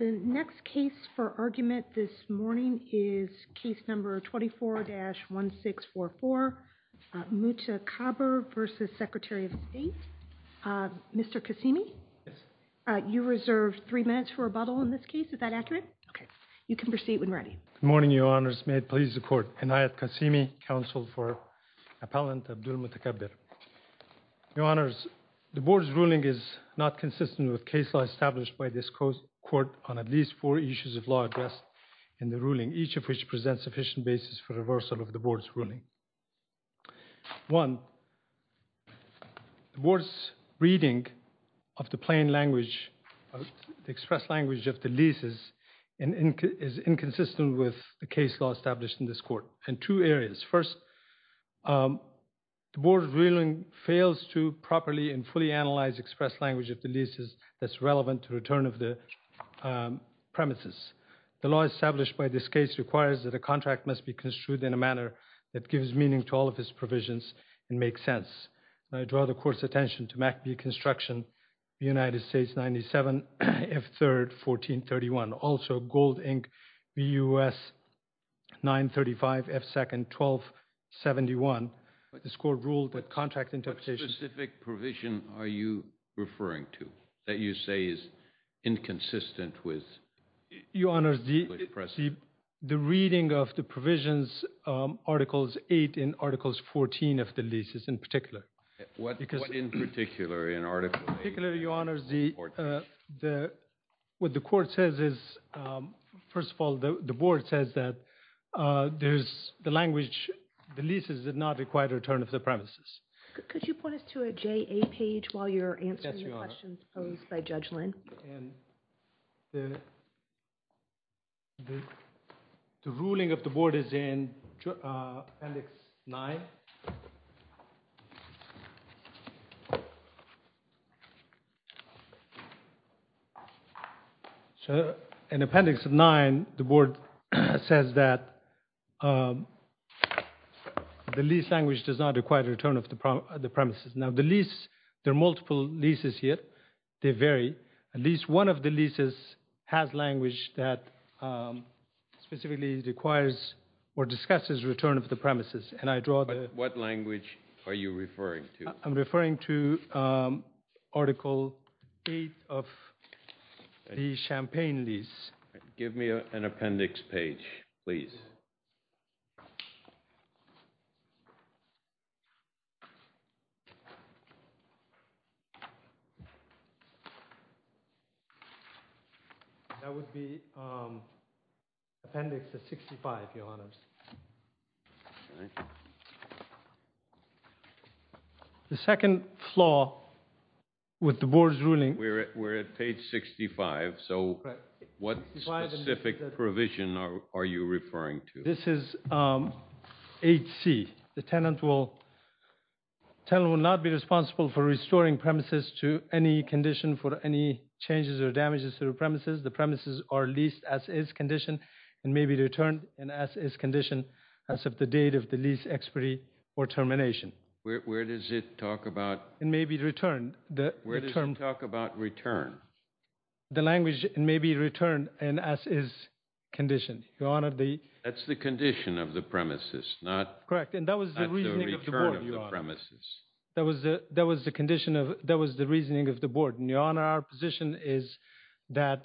The next case for argument this morning is case number 24-1644 Mutakaber v. Secretary of State. Mr. Qasimi, you reserve three minutes for rebuttal in this case. Is that accurate? Okay. You can proceed when ready. Good morning, Your Honors. May it please the Court. Anayat Qasimi, counsel for Appellant Abdulmutakaber. Your Honors, the Board's ruling is not consistent with case law established by this Court on at least four issues of law addressed in the ruling, each of which presents sufficient basis for reversal of the Board's ruling. One, the Board's reading of the plain language, the expressed language of the leases is inconsistent with the case law established in this Court in two areas. First, the Board's ruling fails to properly and fully analyze expressed language of the leases that's relevant to return of the premises. The law established by this case requires that a contract must be construed in a manner that gives meaning to all of its provisions and makes sense. I draw the Court's attention to MACB construction, United States 97 F3rd 1431. Also, Gold, Inc. BUS 935 F2nd 1271. This Court ruled that contract interpretation What specific provision are you referring to that you say is inconsistent with? Your Honors, the reading of the provisions, Articles 8 and Articles 14 of the leases in particular. What in particular? In particular, Your Honors, what the Court says is, first of all, the Board says that there's the language, the leases did not require return of the premises. Could you point us to a JA page while you're answering the questions posed by Judge Lynn? The ruling of the Board is in Appendix 9. In Appendix 9, the Board says that the lease language does not require return of the premises. Now, the lease, there are multiple leases here. They vary. At least one of the leases has language that specifically requires or discusses return of the premises. What language are you referring to? I'm referring to Article 8 of the Champaign lease. Give me an Appendix page, please. That would be Appendix 65, Your Honors. The second flaw with the Board's ruling. We're at page 65, so what specific provision are you referring to? This is 8C. The tenant will not be responsible for restoring premises to any condition for any changes or damages to the premises. The premises are leased as is conditioned and may be returned as is conditioned as of the date of the lease expiry or termination. Where does it talk about return? The language may be returned as is conditioned. That's the condition of the premises, not the return of the premises. That was the reasoning of the Board. Your Honor, our position is that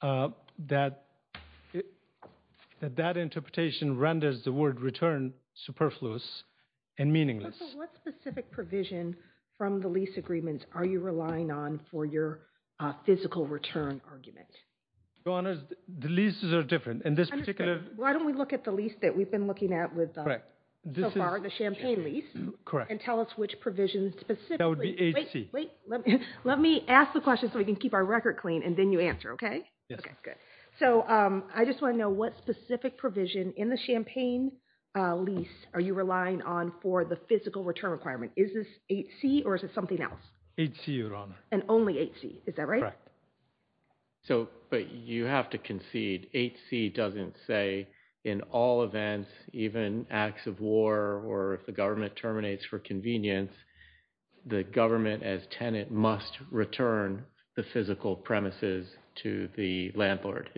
that interpretation renders the word return superfluous and meaningless. What specific provision from the lease agreements are you relying on for your physical return argument? Your Honors, the leases are different. Why don't we look at the lease that we've been looking at so far, the Champaign lease, and tell us which provision specifically. That would be 8C. Let me ask the question so we can keep our record clean and then you answer, okay? I just want to know what specific provision in the Champaign lease are you relying on for the physical return requirement? Is this 8C or is it something else? 8C, Your Honor. And only 8C, is that right? Correct. But you have to concede, 8C doesn't say in all events, even acts of war or if the government terminates for convenience, the government as tenant must return the physical premises to the landlord.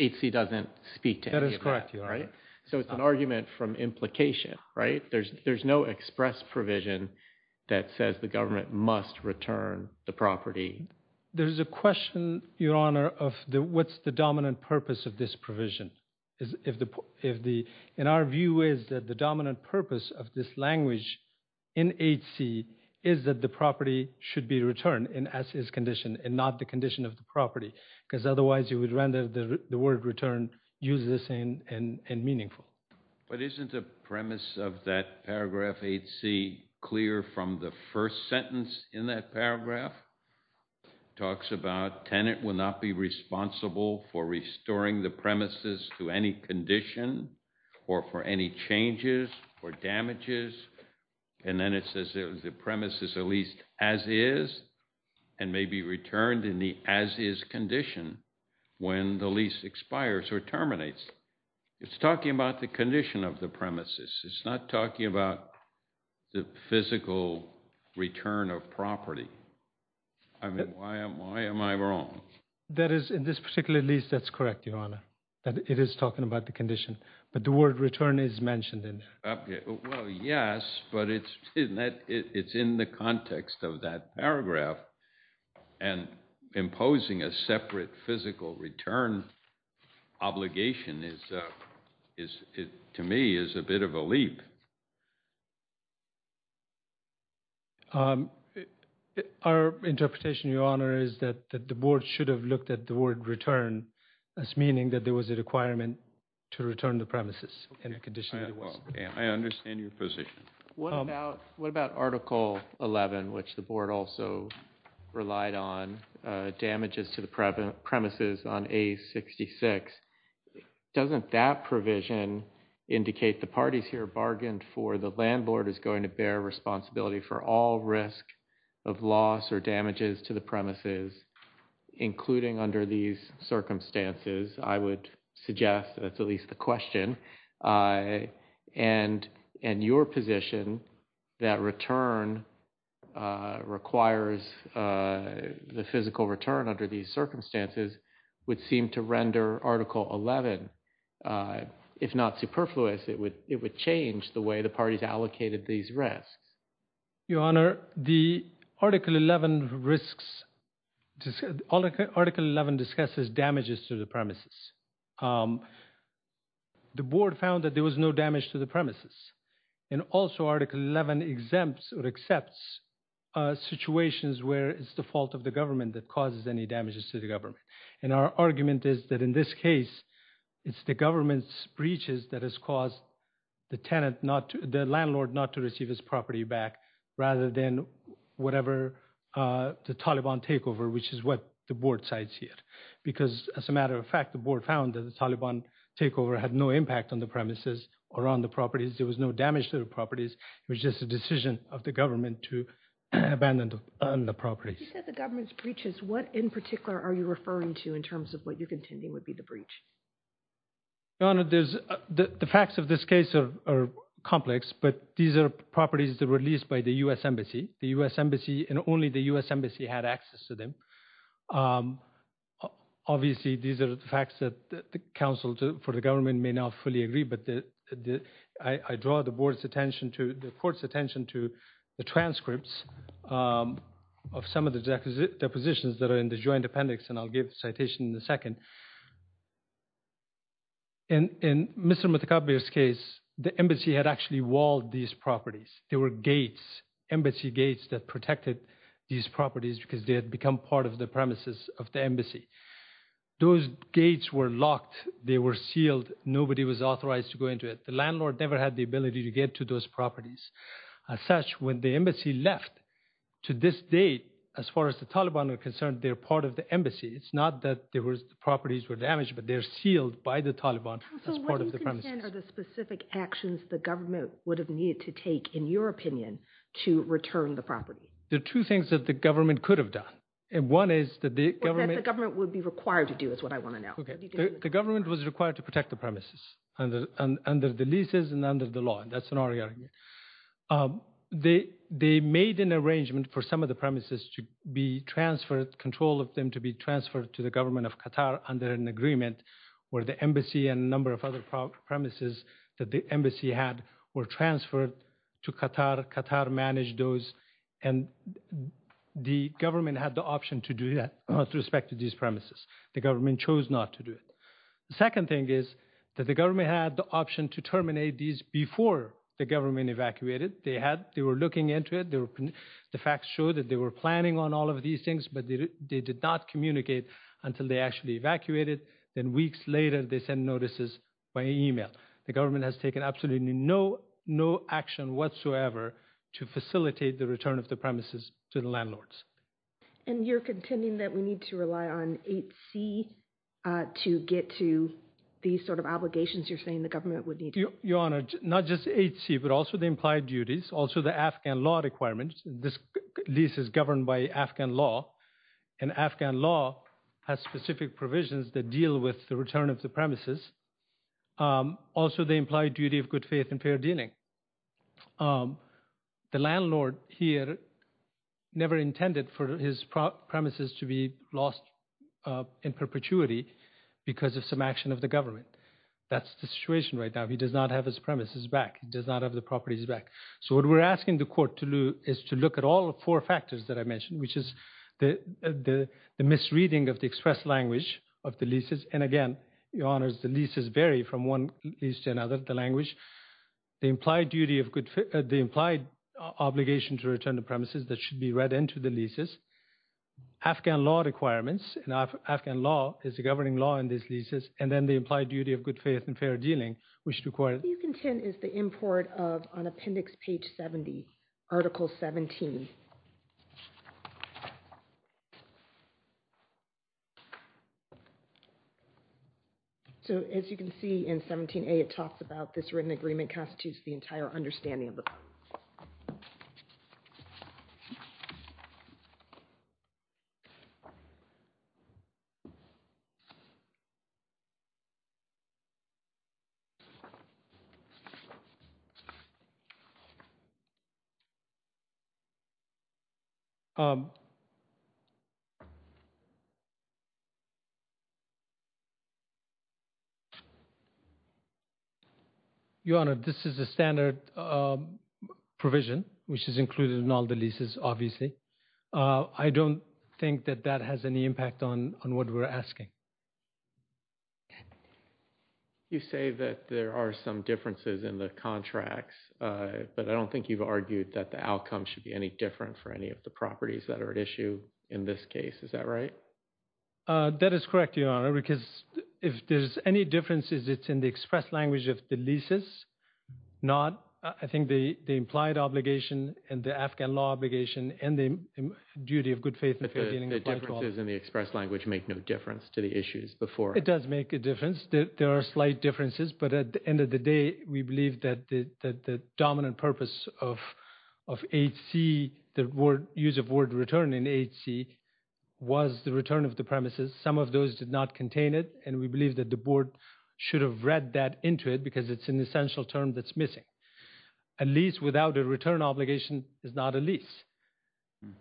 8C doesn't speak to any of that. That is correct, Your Honor. So it's an argument from implication, right? There's no express provision that says the government must return the property. There's a question, Your Honor, of what's the dominant purpose of this provision. In our view is that the dominant purpose of this language in 8C is that the property should be returned as is conditioned and not the condition of the property. Because otherwise you would render the word return useless and meaningful. But isn't the premise of that paragraph 8C clear from the first sentence in that paragraph? It talks about tenant will not be responsible for restoring the premises to any condition or for any changes or damages. And then it says the premises are leased as is and may be returned in the as is condition when the lease expires or terminates. It's talking about the condition of the premises. It's not talking about the physical return of property. I mean, why am I wrong? That is, in this particular lease, that's correct, Your Honor. It is talking about the condition. But the word return is mentioned in there. Well, yes, but it's in the context of that paragraph. And imposing a separate physical return obligation is, to me, is a bit of a leap. Our interpretation, Your Honor, is that the board should have looked at the word return as meaning that there was a requirement to return the premises in the condition that it was. I understand your position. What about Article 11, which the board also relied on, damages to the premises on A66? Doesn't that provision indicate the parties here bargained for the landlord is going to bear responsibility for all risk of loss or damages to the premises, including under these circumstances? I would suggest that's at least the question. And your position that return requires the physical return under these circumstances would seem to render Article 11, if not superfluous, it would change the way the parties allocated these risks. Your Honor, the Article 11 risks, Article 11 discusses damages to the premises. The board found that there was no damage to the premises. And also Article 11 exempts or accepts situations where it's the fault of the government that causes any damages to the government. And our argument is that in this case, it's the government's breaches that has caused the tenant, the landlord, not to receive his property back rather than whatever the Taliban takeover, which is what the board cites here. Because, as a matter of fact, the board found that the Taliban takeover had no impact on the premises or on the properties. There was no damage to the properties. It was just a decision of the government to abandon the properties. You said the government's breaches. What in particular are you referring to in terms of what you're contending would be the breach? Your Honor, the facts of this case are complex, but these are properties that were released by the U.S. Embassy. The U.S. Embassy and only the U.S. Embassy had access to them. Obviously, these are the facts that the counsel for the government may not fully agree, but I draw the board's attention to the court's attention to the transcripts of some of the depositions that are in the joint appendix. And I'll give a citation in a second. In Mr. Mutakabir's case, the embassy had actually walled these properties. There were gates, embassy gates, that protected these properties because they had become part of the premises of the embassy. Those gates were locked. They were sealed. Nobody was authorized to go into it. The landlord never had the ability to get to those properties. As such, when the embassy left, to this date, as far as the Taliban are concerned, they're part of the embassy. It's not that the properties were damaged, but they're sealed by the Taliban as part of the premises. Counsel, what do you contend are the specific actions the government would have needed to take, in your opinion, to return the property? There are two things that the government could have done. And one is that the government… Or that the government would be required to do, is what I want to know. The government was required to protect the premises under the leases and under the law. They made an arrangement for some of the premises to be transferred, control of them to be transferred to the government of Qatar under an agreement, where the embassy and a number of other premises that the embassy had were transferred to Qatar. Qatar managed those, and the government had the option to do that with respect to these premises. The government chose not to do it. The second thing is that the government had the option to terminate these before the government evacuated. They were looking into it. The facts show that they were planning on all of these things, but they did not communicate until they actually evacuated. Then weeks later, they sent notices by email. The government has taken absolutely no action whatsoever to facilitate the return of the premises to the landlords. And you're contending that we need to rely on 8C to get to these sort of obligations you're saying the government would need to… Your Honor, not just 8C, but also the implied duties, also the Afghan law requirements. This lease is governed by Afghan law, and Afghan law has specific provisions that deal with the return of the premises. Also, the implied duty of good faith and fair dealing. The landlord here never intended for his premises to be lost in perpetuity because of some action of the government. That's the situation right now. He does not have his premises back. He does not have the properties back. So what we're asking the court to do is to look at all four factors that I mentioned, which is the misreading of the express language of the leases. And again, Your Honor, the leases vary from one lease to another, the language. The implied obligation to return the premises that should be read into the leases. Afghan law requirements, and Afghan law is the governing law in these leases. And then the implied duty of good faith and fair dealing, which requires… What you contend is the import of, on appendix page 70, article 17. So as you can see in 17A, it talks about this written agreement constitutes the entire understanding of the law. Your Honor, this is a standard provision, which is included in all the leases, obviously. I don't think that that has any impact on what we're asking. You say that there are some differences in the contracts, but I don't think you've argued that the outcome should be any different for any of the properties that are at issue in this case. Is that right? That is correct, Your Honor, because if there's any differences, it's in the express language of the leases, not, I think, the implied obligation and the Afghan law obligation and the duty of good faith. The differences in the express language make no difference to the issues before. It does make a difference. There are slight differences, but at the end of the day, we believe that the dominant purpose of H.C., the use of word return in H.C., was the return of the premises. Some of those did not contain it, and we believe that the board should have read that into it because it's an essential term that's missing. A lease without a return obligation is not a lease.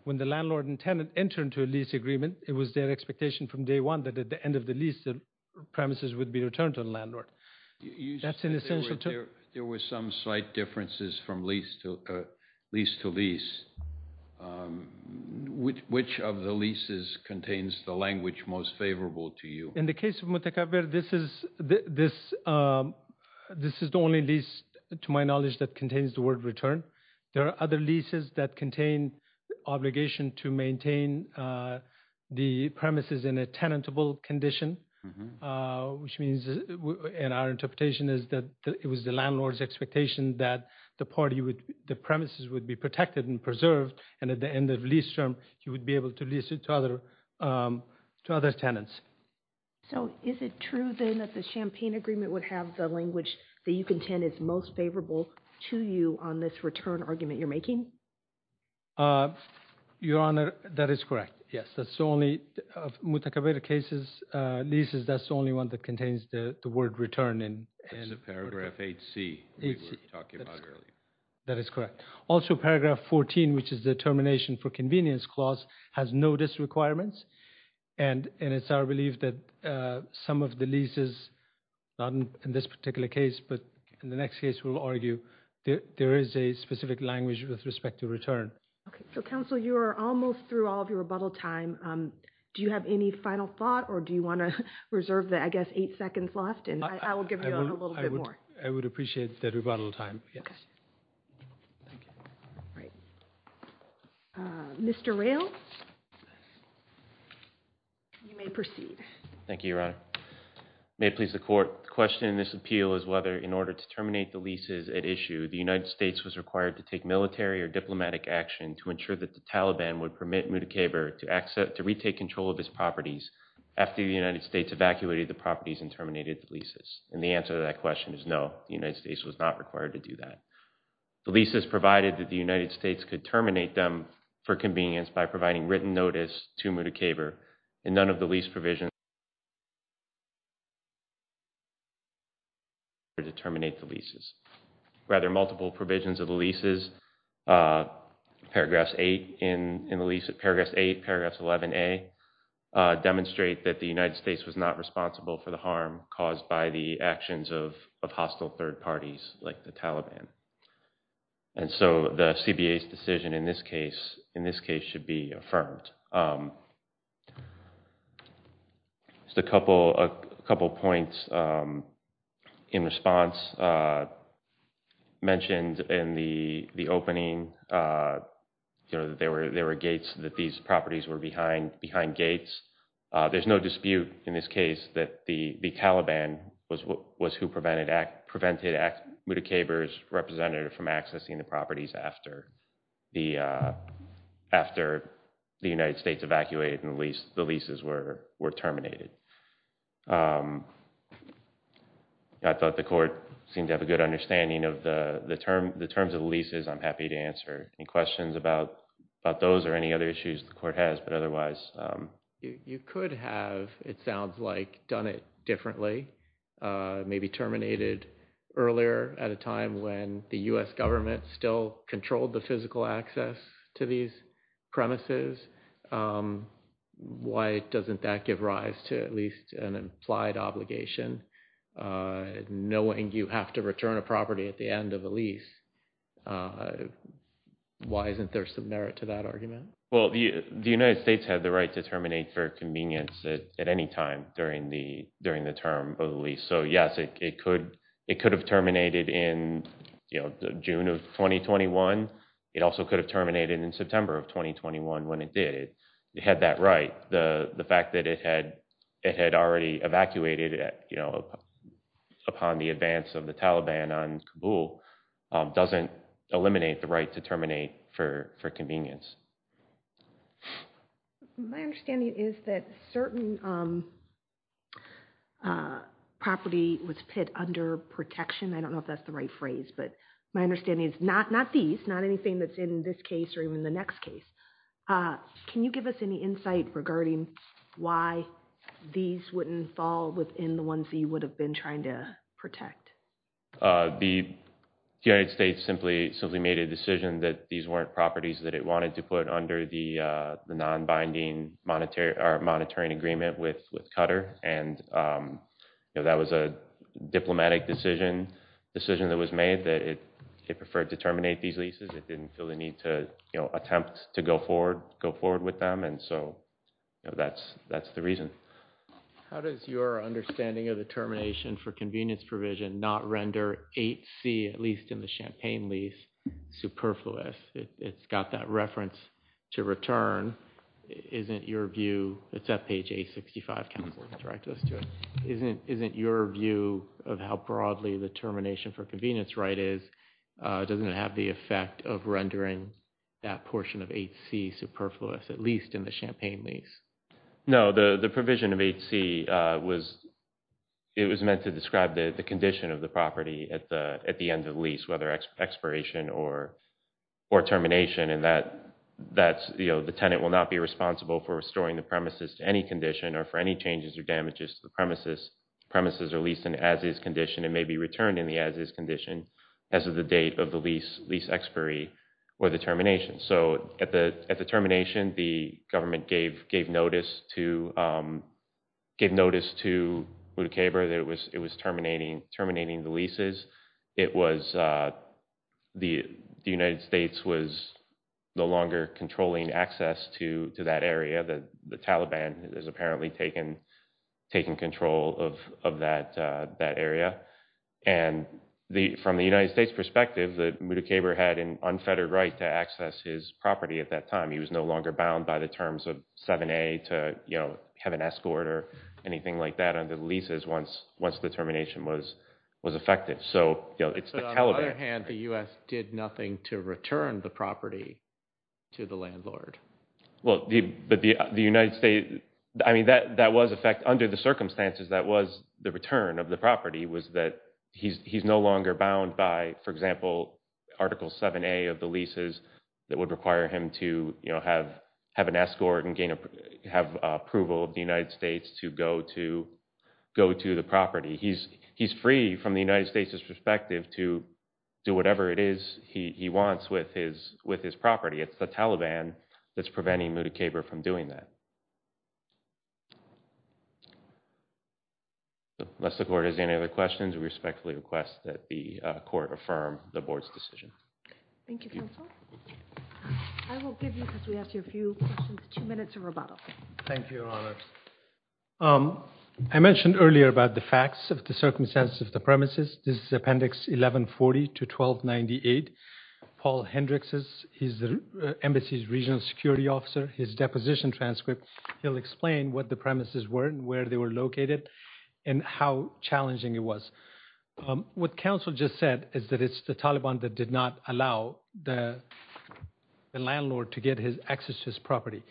When the landlord and tenant enter into a lease agreement, it was their expectation from day one that at the end of the lease, the premises would be returned to the landlord. That's an essential term. There were some slight differences from lease to lease. Which of the leases contains the language most favorable to you? In the case of Mutakaber, this is the only lease, to my knowledge, that contains the word return. There are other leases that contain the obligation to maintain the premises in a tenantable condition, which means, in our interpretation, it was the landlord's expectation that the premises would be protected and preserved, and at the end of the lease term, he would be able to lease it to other tenants. So is it true, then, that the Champaign Agreement would have the language that you contend is most favorable to you on this return argument you're making? Your Honor, that is correct. Yes, that's the only, of Mutakaber cases, leases, that's the only one that contains the word return. That's the paragraph 8C we were talking about earlier. That is correct. Also, paragraph 14, which is the termination for convenience clause, has no disrequirements. And it's our belief that some of the leases, not in this particular case, but in the next case, we'll argue that there is a specific language with respect to return. So, Counsel, you are almost through all of your rebuttal time. Do you have any final thought, or do you want to reserve the, I guess, eight seconds left? I will give you a little bit more. I would appreciate the rebuttal time, yes. Mr. Rales, you may proceed. Thank you, Your Honor. May it please the Court, the question in this appeal is whether, in order to terminate the leases at issue, the United States was required to take military or diplomatic action to ensure that the Taliban would permit Mutakaber to retake control of his properties after the United States evacuated the properties and terminated the leases. And the answer to that question is no, the United States was not required to do that. The leases provided that the United States could terminate them for convenience by providing written notice to Mutakaber, and none of the lease provisions were required to terminate the leases. Rather, multiple provisions of the leases, Paragraphs 8, Paragraphs 11A, demonstrate that the United States was not responsible for the harm caused by the actions of hostile third parties like the Taliban. And so the CBA's decision in this case should be affirmed. Just a couple points in response. Mentioned in the opening, there were gates, that these properties were behind gates. There's no dispute in this case that the Taliban was who prevented Mutakaber's representative from accessing the properties after the United States evacuated and the leases were terminated. I thought the court seemed to have a good understanding of the terms of the leases. I'm happy to answer any questions about those or any other issues the court has, but otherwise. You could have, it sounds like, done it differently, maybe terminated earlier at a time when the U.S. government still controlled the physical access to these premises. Why doesn't that give rise to at least an implied obligation? Knowing you have to return a property at the end of a lease, why isn't there some merit to that argument? The United States had the right to terminate for convenience at any time during the term of the lease. So yes, it could have terminated in June of 2021. It also could have terminated in September of 2021 when it did. It had that right. The fact that it had already evacuated upon the advance of the Taliban on Kabul doesn't eliminate the right to terminate for convenience. My understanding is that certain property was put under protection. I don't know if that's the right phrase, but my understanding is not these, not anything that's in this case or even the next case. Can you give us any insight regarding why these wouldn't fall within the ones that you would have been trying to protect? The United States simply made a decision that these weren't properties that it wanted to put under the non-binding monitoring agreement with Qatar. And that was a diplomatic decision that was made that it preferred to terminate these leases. It didn't feel the need to attempt to go forward with them. And so that's the reason. How does your understanding of the termination for convenience provision not render 8C, at least in the Champaign lease, superfluous? It's got that reference to return. Isn't your view, it's at page 865. Isn't your view of how broadly the termination for convenience right is, doesn't it have the effect of rendering that portion of 8C superfluous, at least in the Champaign lease? No, the provision of 8C, it was meant to describe the condition of the property at the end of lease, whether expiration or termination. The tenant will not be responsible for restoring the premises to any condition or for any changes or damages to the premises. The premises are leased in as-is condition and may be returned in the as-is condition as of the date of the lease expiry or the termination. So at the termination, the government gave notice to Boudicaba that it was terminating the leases. The United States was no longer controlling access to that area. The Taliban has apparently taken control of that area. And from the United States perspective, Boudicaba had an unfettered right to access his property at that time. He was no longer bound by the terms of 7A to have an escort or anything like that under the leases once the termination was effective. So it's the Taliban. But on the other hand, the U.S. did nothing to return the property to the landlord. Well, but the United States – I mean, that was – in fact, under the circumstances, that was the return of the property was that he's no longer bound by, for example, Article 7A of the leases that would require him to have an escort and have approval of the United States to go to the property. He's free from the United States' perspective to do whatever it is he wants with his property. It's the Taliban that's preventing Boudicaba from doing that. Unless the court has any other questions, we respectfully request that the court affirm the board's decision. Thank you, counsel. I will give you, because we asked you a few questions, two minutes of rebuttal. Thank you, Your Honor. I mentioned earlier about the facts of the circumstances of the premises. This is Appendix 1140 to 1298. Paul Hendricks is the embassy's regional security officer. His deposition transcript, he'll explain what the premises were and where they were located and how challenging it was. What counsel just said is that it's the Taliban that did not allow the landlord to get his access to his property.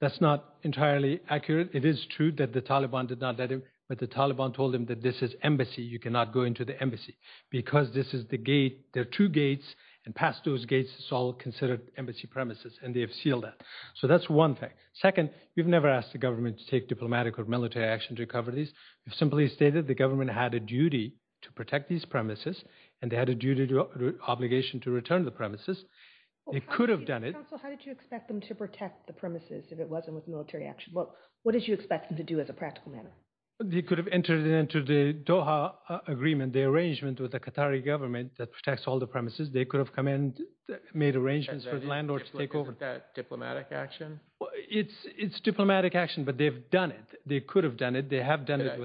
That's not entirely accurate. It is true that the Taliban did not let him, but the Taliban told him that this is embassy. You cannot go into the embassy because this is the gate. There are two gates, and past those gates is all considered embassy premises, and they have sealed that. So that's one thing. Second, we've never asked the government to take diplomatic or military action to cover these. We've simply stated the government had a duty to protect these premises, and they had a duty to obligation to return the premises. They could have done it. Counsel, how did you expect them to protect the premises if it wasn't with military action? What did you expect them to do as a practical matter? They could have entered into the Doha agreement, the arrangement with the Qatari government that protects all the premises. They could have come in and made arrangements for the landlord to take over. Is that diplomatic action? It's diplomatic action, but they've done it. They could have done it. They have done it.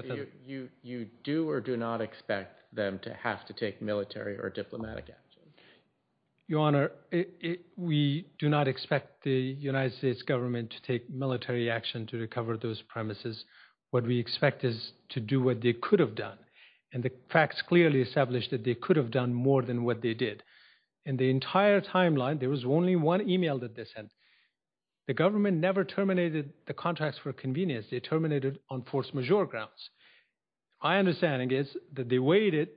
You do or do not expect them to have to take military or diplomatic action? Your Honor, we do not expect the United States government to take military action to recover those premises. What we expect is to do what they could have done, and the facts clearly establish that they could have done more than what they did. In the entire timeline, there was only one email that they sent. The government never terminated the contracts for convenience. They terminated on force majeure grounds. My understanding is that they waited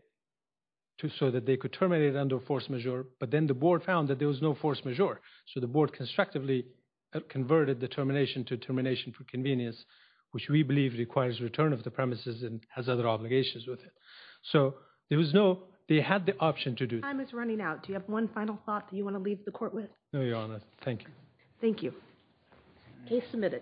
so that they could terminate it under force majeure, but then the board found that there was no force majeure, so the board constructively converted the termination to termination for convenience, which we believe requires return of the premises and has other obligations with it. So there was no – they had the option to do that. Time is running out. Do you have one final thought that you want to leave the court with? No, Your Honor. Thank you. Thank you. Case submitted.